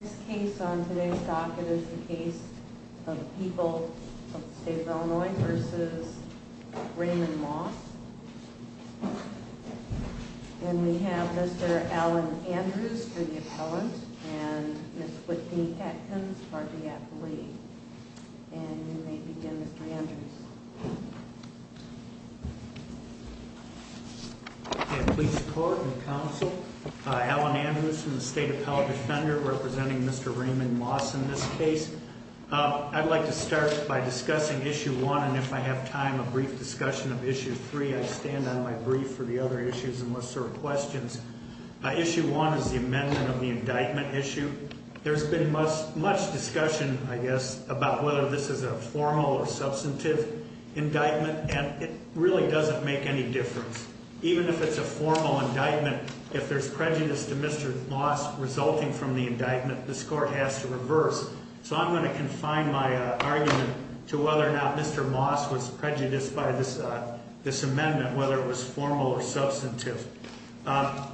This case on today's docket is the case of People of the State of Illinois v. Raymond Moss. And we have Mr. Alan Andrews for the appellant and Ms. Whitney Atkins for the appellee. And you may begin Mr. Andrews. Please record and counsel. Alan Andrews from the State Appellate Defender representing Mr. Raymond Moss in this case. I'd like to start by discussing Issue 1 and if I have time a brief discussion of Issue 3. I stand on my brief for the other issues and what sort of questions. Issue 1 is the amendment of the indictment issue. There's been much discussion, I guess, about whether this is a formal or substantive indictment and it really doesn't make any difference. Even if it's a formal indictment, if there's prejudice to Mr. Moss resulting from the indictment, this court has to reverse. So I'm going to confine my argument to whether or not Mr. Moss was prejudiced by this amendment, whether it was formal or substantive. The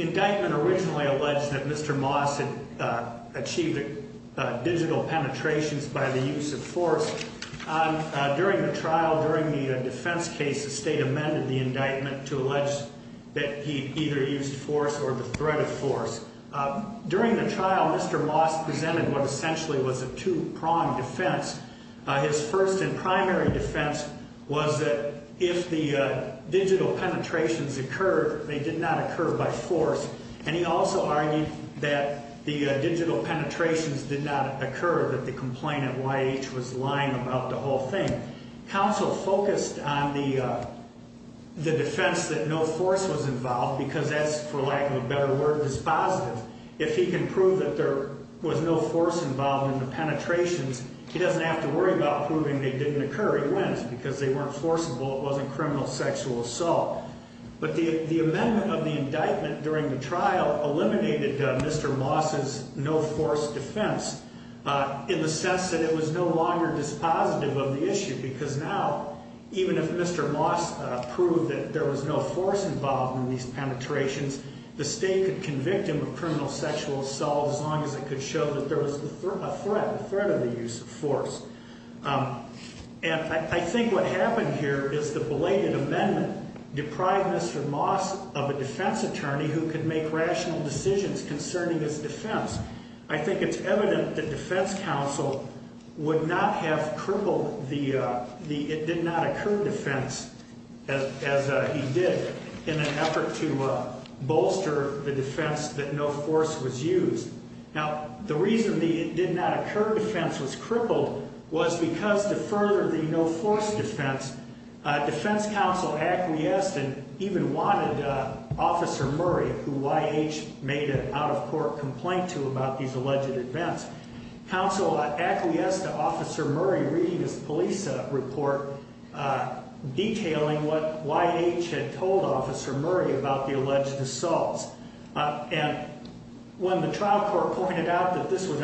indictment originally alleged that Mr. Moss had achieved digital penetrations by the use of force. During the trial, during the defense case, the state amended the indictment to allege that he either used force or the threat of force. During the trial, Mr. Moss presented what essentially was a two-pronged defense. His first and primary defense was that if the digital penetrations occurred, they did not occur by force. And he also argued that the digital penetrations did not occur, that the complaint at YH was lying about the whole thing. Counsel focused on the defense that no force was involved because that's, for lack of a better word, dispositive. If he can prove that there was no force involved in the penetrations, he doesn't have to worry about proving they didn't occur. He wins because they weren't forcible. It wasn't criminal sexual assault. But the amendment of the indictment during the trial eliminated Mr. Moss's no-force defense in the sense that it was no longer dispositive of the issue because now, even if Mr. Moss proved that there was no force involved in these penetrations, the state could convict him of criminal sexual assault as long as it could show that there was a threat, a threat of the use of force. And I think what happened here is the belated amendment deprived Mr. Moss of a defense attorney who could make rational decisions concerning his defense. I think it's evident that defense counsel would not have crippled the it-did-not-occur defense as he did in an effort to bolster the defense that no force was used. Now, the reason the it-did-not-occur defense was crippled was because to further the no-force defense, defense counsel acquiesced and even wanted Officer Murray, who Y.H. made an out-of-court complaint to about these alleged events. Counsel acquiesced to Officer Murray reading his police report detailing what Y.H. had told Officer Murray about the alleged assaults. And when the trial court pointed out that this was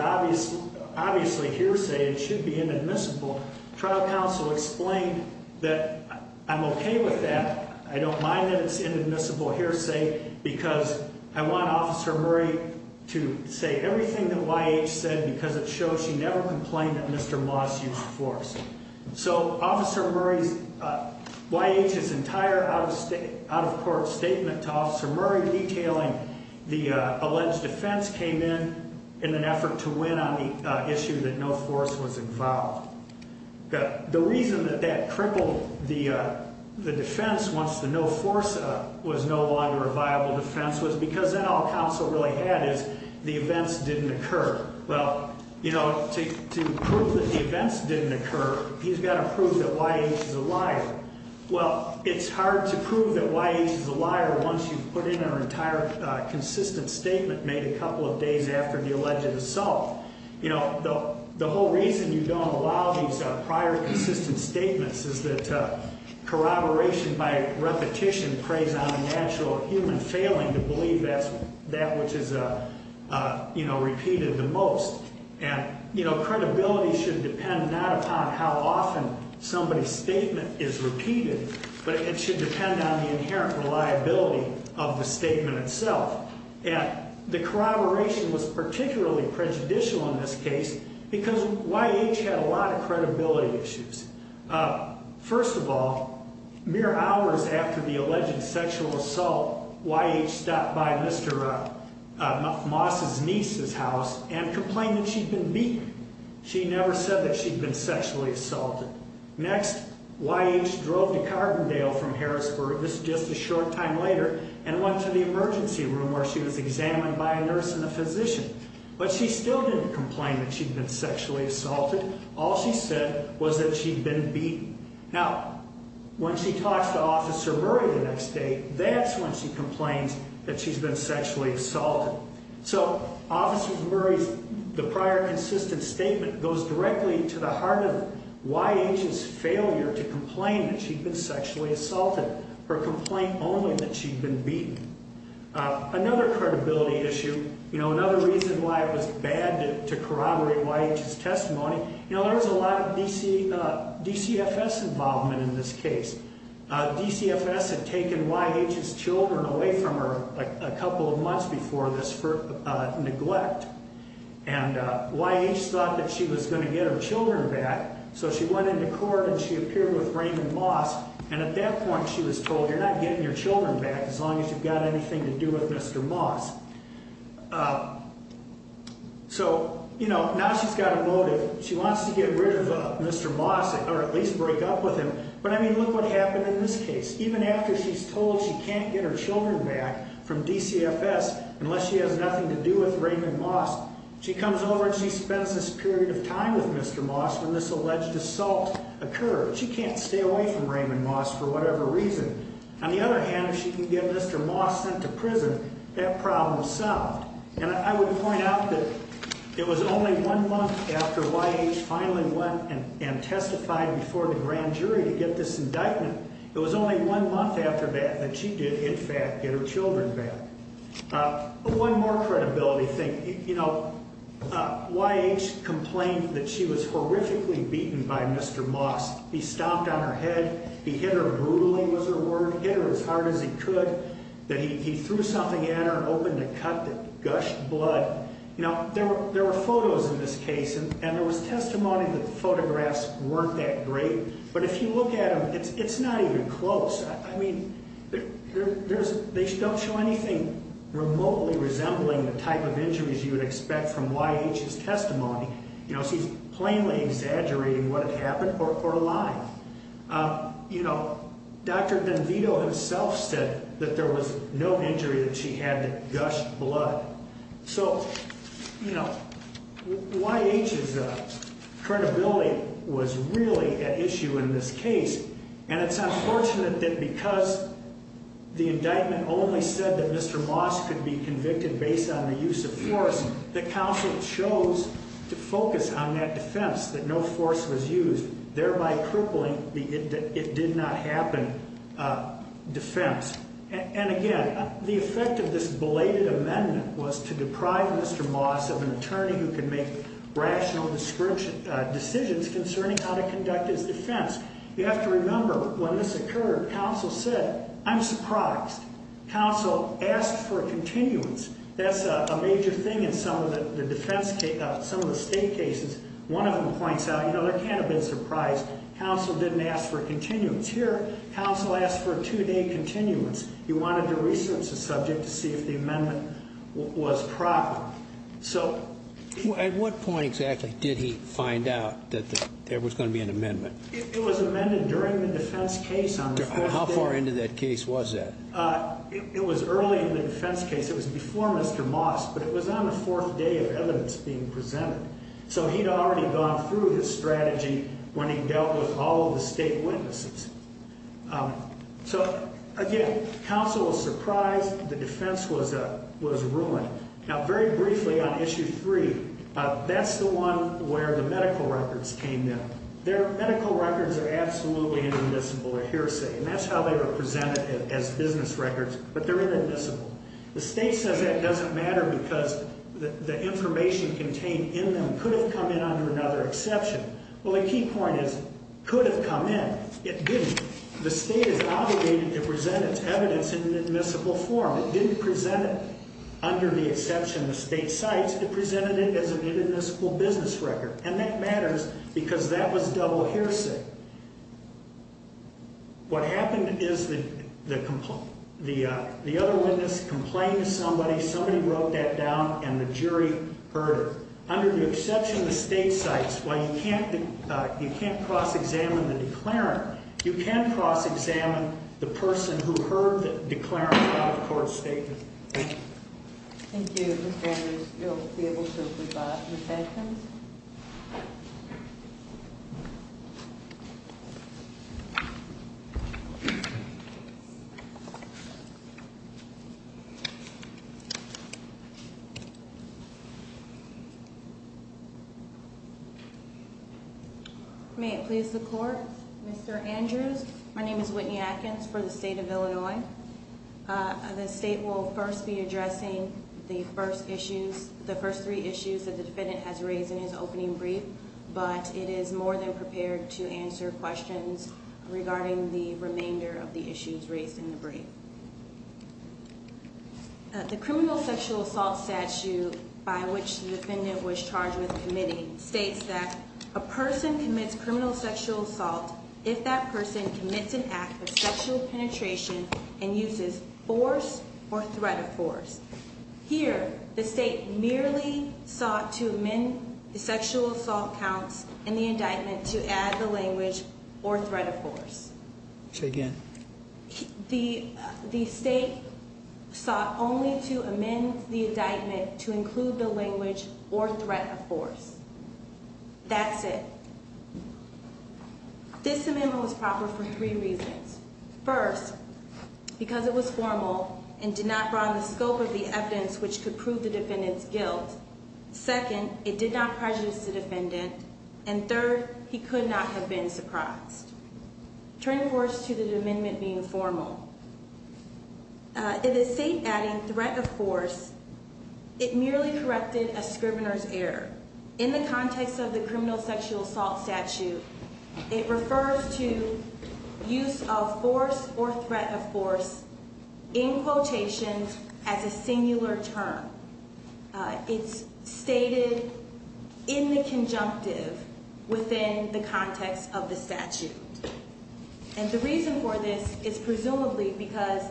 obviously hearsay, it should be inadmissible, trial counsel explained that I'm okay with that. I don't mind that it's inadmissible hearsay because I want Officer Murray to say everything that Y.H. said because it shows she never complained that Mr. Moss used force. So Officer Murray's, Y.H.'s entire out-of-court statement to Officer Murray detailing the alleged defense came in in an effort to win on the issue that no force was involved. The reason that that crippled the defense once the no-force was no longer a viable defense was because then all counsel really had is the events didn't occur. Well, you know, to prove that the events didn't occur, he's got to prove that Y.H. is a liar. Well, it's hard to prove that Y.H. is a liar once you've put in an entire consistent statement made a couple of days after the alleged assault. You know, the whole reason you don't allow these prior consistent statements is that corroboration by repetition preys on a natural human failing to believe that which is, you know, repeated the most. And, you know, credibility should depend not upon how often somebody's statement is repeated, but it should depend on the inherent reliability of the statement itself. The corroboration was particularly prejudicial in this case because Y.H. had a lot of credibility issues. First of all, mere hours after the alleged sexual assault, Y.H. stopped by Mr. Moss' niece's house and complained that she'd been beaten. She never said that she'd been sexually assaulted. Next, Y.H. drove to Carbondale from Harrisburg, this is just a short time later, and went to the emergency room where she was examined by a nurse and a physician. But she still didn't complain that she'd been sexually assaulted. All she said was that she'd been beaten. Now, when she talks to Officer Murray the next day, that's when she complains that she's been sexually assaulted. So, Officer Murray's prior consistent statement goes directly to the heart of Y.H.'s failure to complain that she'd been sexually assaulted. Her complaint only that she'd been beaten. Another credibility issue, you know, another reason why it was bad to corroborate Y.H.'s testimony, you know, there was a lot of DCFS involvement in this case. DCFS had taken Y.H.'s children away from her a couple of months before this neglect. And Y.H. thought that she was going to get her children back, so she went into court and she appeared with Raymond Moss, and at that point she was told, you're not getting your children back as long as you've got anything to do with Mr. Moss. So, you know, now she's got a motive. She wants to get rid of Mr. Moss or at least break up with him. But, I mean, look what happened in this case. Even after she's told she can't get her children back from DCFS unless she has nothing to do with Raymond Moss, she comes over and she spends this period of time with Mr. Moss when this alleged assault occurred. She can't stay away from Raymond Moss for whatever reason. On the other hand, if she can get Mr. Moss sent to prison, that problem is solved. And I would point out that it was only one month after Y.H. finally went and testified before the grand jury to get this indictment, it was only one month after that that she did, in fact, get her children back. One more credibility thing. You know, Y.H. complained that she was horrifically beaten by Mr. Moss. He stomped on her head. He hit her brutally was her word. Hit her as hard as he could. That he threw something at her and opened a cut that gushed blood. Now, there were photos in this case, and there was testimony that the photographs weren't that great. But if you look at them, it's not even close. I mean, they don't show anything remotely resembling the type of injuries you would expect from Y.H.'s testimony. You know, she's plainly exaggerating what had happened or a lie. You know, Dr. DenVito himself said that there was no injury that she had that gushed blood. So, you know, Y.H.'s credibility was really at issue in this case. And it's unfortunate that because the indictment only said that Mr. Moss could be convicted based on the use of force, that counsel chose to focus on that defense, that no force was used, thereby crippling the it-did-not-happen defense. And again, the effect of this belated amendment was to deprive Mr. Moss of an attorney who could make rational decisions concerning how to conduct his defense. You have to remember, when this occurred, counsel said, I'm surprised. Counsel asked for a continuance. That's a major thing in some of the state cases. One of them points out, you know, there can't have been a surprise. Counsel didn't ask for a continuance. Here, counsel asked for a two-day continuance. He wanted to research the subject to see if the amendment was proper. At what point exactly did he find out that there was going to be an amendment? It was amended during the defense case on the fourth day. How far into that case was that? It was early in the defense case. It was before Mr. Moss, but it was on the fourth day of evidence being presented. So he'd already gone through his strategy when he dealt with all of the state witnesses. So, again, counsel was surprised. The defense was ruined. Now, very briefly, on Issue 3, that's the one where the medical records came in. Their medical records are absolutely inadmissible, a hearsay, and that's how they were presented as business records, but they're inadmissible. The state says that doesn't matter because the information contained in them could have come in under another exception. Well, the key point is could have come in. It didn't. The state is obligated to present its evidence in an admissible form. It didn't present it under the exception of state sites. It presented it as an inadmissible business record, and that matters because that was double hearsay. What happened is the other witness complained to somebody, somebody wrote that down, and the jury heard her. Under the exception of state sites, while you can't cross-examine the declarant, you can cross-examine the person who heard the declarant without a court statement. Thank you. Thank you, Mr. Andrews. You'll be able to rebut Ms. Adkins. May it please the court. Mr. Andrews, my name is Whitney Adkins for the state of Illinois. The state will first be addressing the first three issues that the defendant has raised in his opening brief, but it is more than prepared to answer questions regarding the remainder of the issues raised in the brief. The criminal sexual assault statute by which the defendant was charged with committing states that a person commits criminal sexual assault if that person commits an act of sexual penetration and uses force or threat of force. Here, the state merely sought to amend the sexual assault counts in the indictment to add the language or threat of force. Say again. The state sought only to amend the indictment to include the language or threat of force. That's it. This amendment was proper for three reasons. First, because it was formal and did not broaden the scope of the evidence which could prove the defendant's guilt. Second, it did not prejudice the defendant. And third, he could not have been surprised. Turning towards to the amendment being formal. In the state adding threat of force, it merely corrected a scrivener's error. In the context of the criminal sexual assault statute, it refers to use of force or threat of force in quotations as a singular term. It's stated in the conjunctive within the context of the statute. And the reason for this is presumably because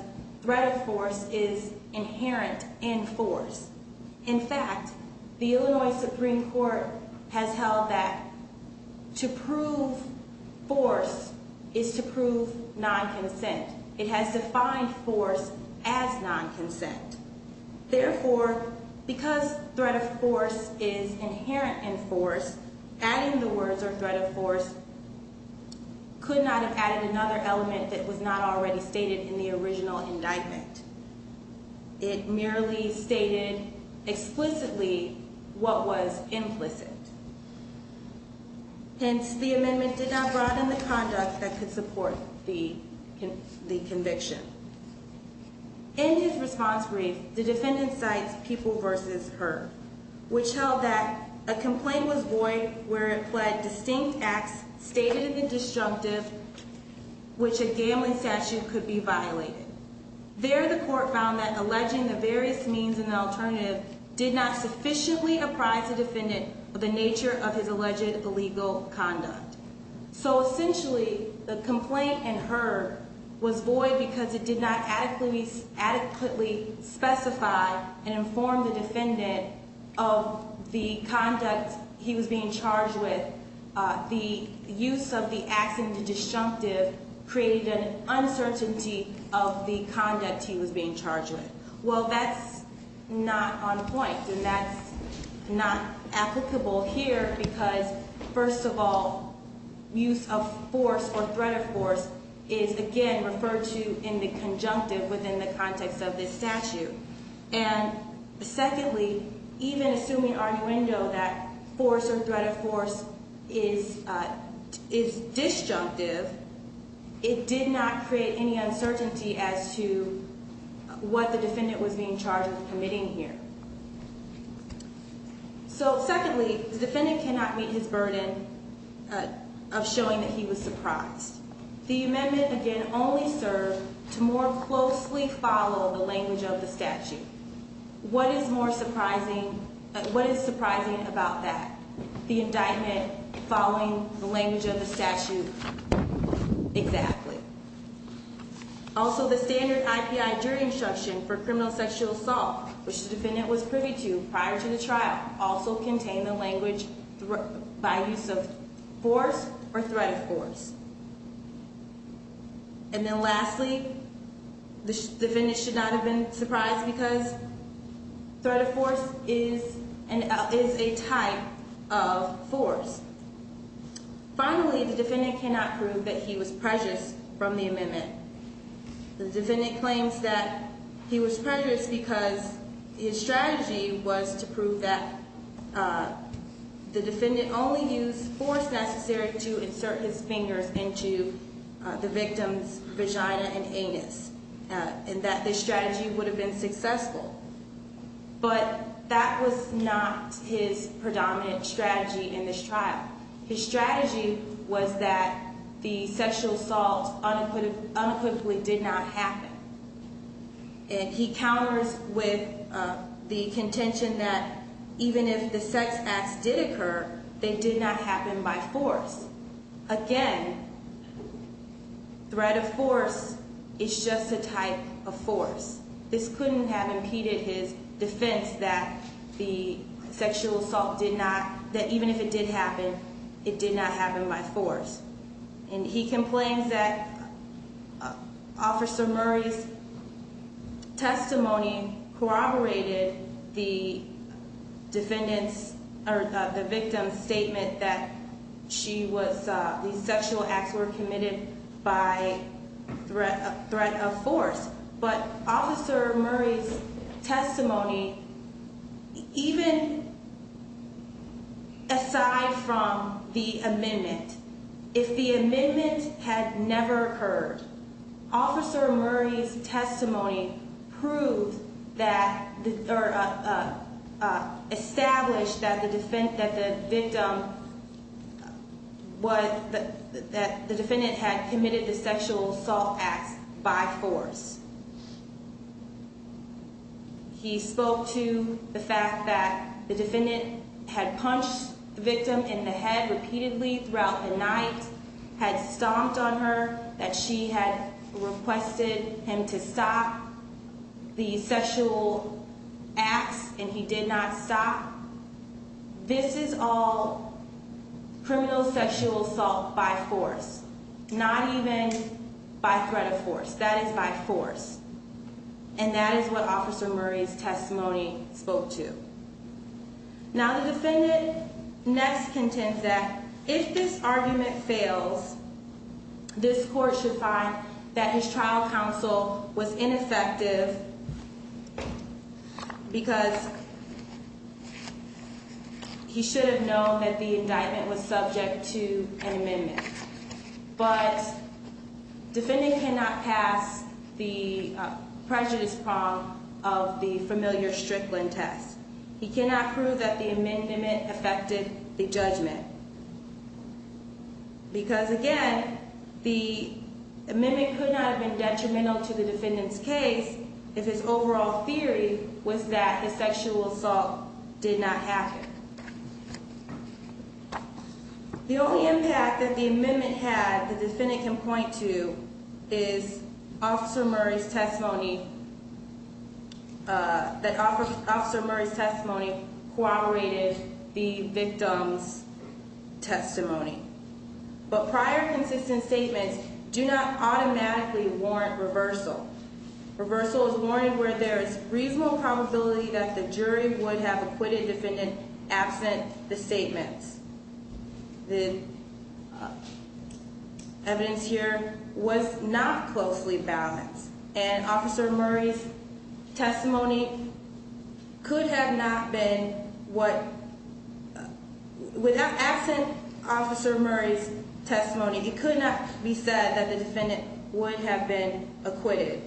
threat of force is inherent in force. In fact, the Illinois Supreme Court has held that to prove force is to prove non-consent. It has defined force as non-consent. Therefore, because threat of force is inherent in force, adding the words or threat of force could not have added another element that was not already stated in the original indictment. It merely stated explicitly what was implicit. Hence, the amendment did not broaden the conduct that could support the conviction. In his response brief, the defendant cites people versus her. Which held that a complaint was void where it pled distinct acts stated in the disjunctive which a gambling statute could be violated. There, the court found that alleging the various means in the alternative did not sufficiently apprise the defendant of the nature of his alleged illegal conduct. So essentially, the complaint in her was void because it did not adequately specify and inform the defendant of the conduct he was being charged with. The use of the accent in disjunctive created an uncertainty of the conduct he was being charged with. Well, that's not on point. And that's not applicable here because, first of all, use of force or threat of force is again referred to in the conjunctive within the context of this statute. And secondly, even assuming arguendo that force or threat of force is disjunctive, it did not create any uncertainty as to what the defendant was being charged with committing here. So secondly, the defendant cannot meet his burden of showing that he was surprised. The amendment again only served to more closely follow the language of the statute. What is more surprising, what is surprising about that? The indictment following the language of the statute exactly. Also, the standard I.P.I. during instruction for criminal sexual assault, which the defendant was privy to prior to the trial, also contained the language by use of force or threat of force. And then lastly, the defendant should not have been surprised because threat of force is a type of force. Finally, the defendant cannot prove that he was prejudiced from the amendment. The defendant claims that he was prejudiced because his strategy was to prove that the defendant only used force necessary to insert his fingers into the victim's vagina and anus. And that this strategy would have been successful. But that was not his predominant strategy in this trial. His strategy was that the sexual assault unequivocally did not happen. And he counters with the contention that even if the sex acts did occur, they did not happen by force. Again, threat of force is just a type of force. This couldn't have impeded his defense that the sexual assault did not, that even if it did happen, it did not happen by force. And he complains that Officer Murray's testimony corroborated the victim's statement that the sexual acts were committed by threat of force. But Officer Murray's testimony, even aside from the amendment, if the amendment had never occurred, Officer Murray's testimony proved that, or established that the victim, that the defendant had committed the sexual assault acts by force. He spoke to the fact that the defendant had punched the victim in the head repeatedly throughout the night, had stomped on her, that she had requested him to stop the sexual acts, and he did not stop. This is all criminal sexual assault by force. Not even by threat of force. That is by force. And that is what Officer Murray's testimony spoke to. Now the defendant next contends that if this argument fails, this court should find that his trial counsel was ineffective because he should have known that the indictment was subject to an amendment. But defendant cannot pass the prejudice prong of the familiar Strickland test. He cannot prove that the amendment affected the judgment. Because again, the amendment could not have been detrimental to the defendant's case if his overall theory was that the sexual assault did not happen. The only impact that the amendment had, the defendant can point to, is Officer Murray's testimony, that Officer Murray's testimony corroborated the victim's testimony. But prior consistent statements do not automatically warrant reversal. Reversal is warranted where there is reasonable probability that the jury would have acquitted the defendant absent the statements. The evidence here was not closely balanced. And Officer Murray's testimony could have not been what, without absent Officer Murray's testimony, it could not be said that the defendant would have been acquitted.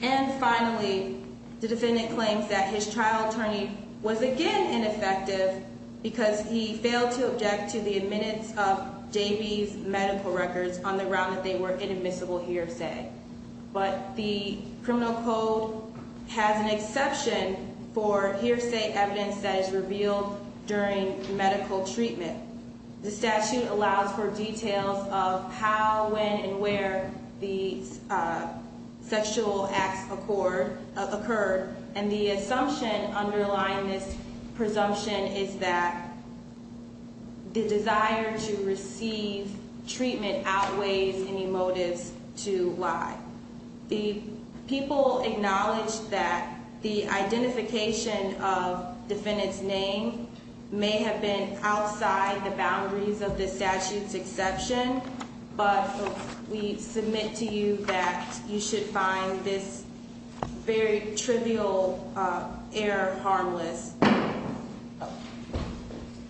And finally, the defendant claims that his trial attorney was again ineffective because he failed to object to the admittance of JB's medical records on the ground that they were inadmissible hearsay. But the criminal code has an exception for hearsay evidence that is revealed during medical treatment. The statute allows for details of how, when, and where the sexual acts occurred. And the assumption underlying this presumption is that the desire to receive treatment outweighs any motives to lie. The people acknowledge that the identification of defendant's name may have been outside the boundaries of the statute's exception. But we submit to you that you should find this very trivial error harmless.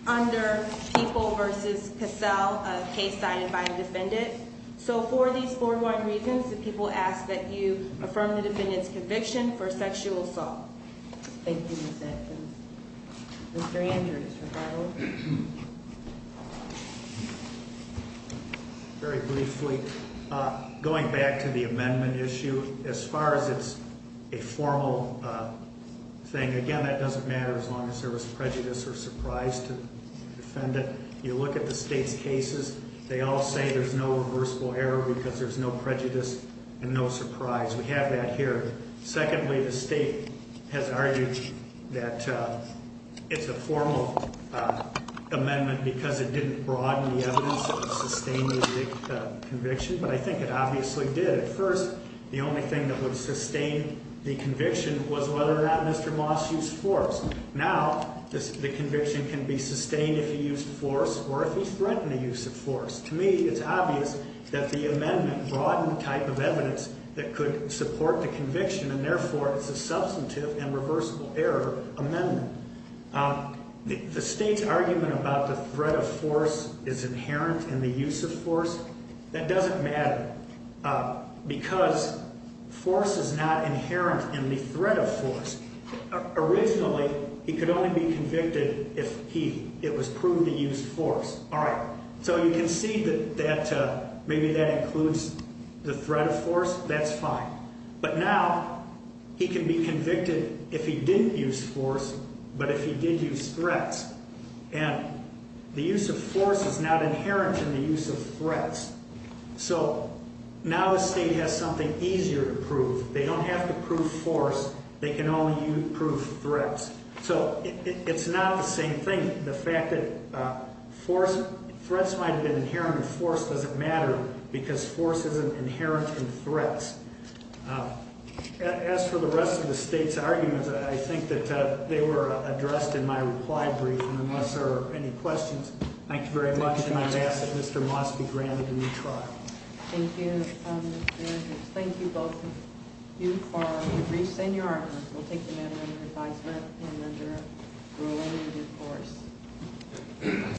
Under People v. Cassell, a case signed by a defendant. So for these four wide reasons, the people ask that you affirm the defendant's conviction for sexual assault. Thank you, Ms. Edmonds. Mr. Andrews, regarding? Very briefly, going back to the amendment issue, as far as it's a formal thing, again, that doesn't matter as long as there was prejudice or surprise to the defendant. You look at the state's cases, they all say there's no reversible error because there's no prejudice and no surprise. We have that here. Secondly, the state has argued that it's a formal amendment because it didn't broaden the evidence of sustaining the conviction. But I think it obviously did. At first, the only thing that would sustain the conviction was whether or not Mr. Moss used force. Now, the conviction can be sustained if he used force or if he threatened the use of force. To me, it's obvious that the amendment broadened the type of evidence that could support the conviction, and therefore it's a substantive and reversible error amendment. The state's argument about the threat of force is inherent in the use of force. That doesn't matter because force is not inherent in the threat of force. Originally, he could only be convicted if it was proved he used force. All right, so you can see that maybe that includes the threat of force. That's fine. But now he can be convicted if he didn't use force but if he did use threats, and the use of force is not inherent in the use of threats. So now the state has something easier to prove. They don't have to prove force. They can only prove threats. So it's not the same thing. The fact that threats might have been inherent in force doesn't matter because force isn't inherent in threats. As for the rest of the state's arguments, I think that they were addressed in my reply brief, and unless there are any questions, thank you very much, and I ask that Mr. Moss be granted a new trial. Thank you, Mr. Andrews. Thank you, both of you, for your briefs and your arguments. We'll take them in under advisement and under a related course.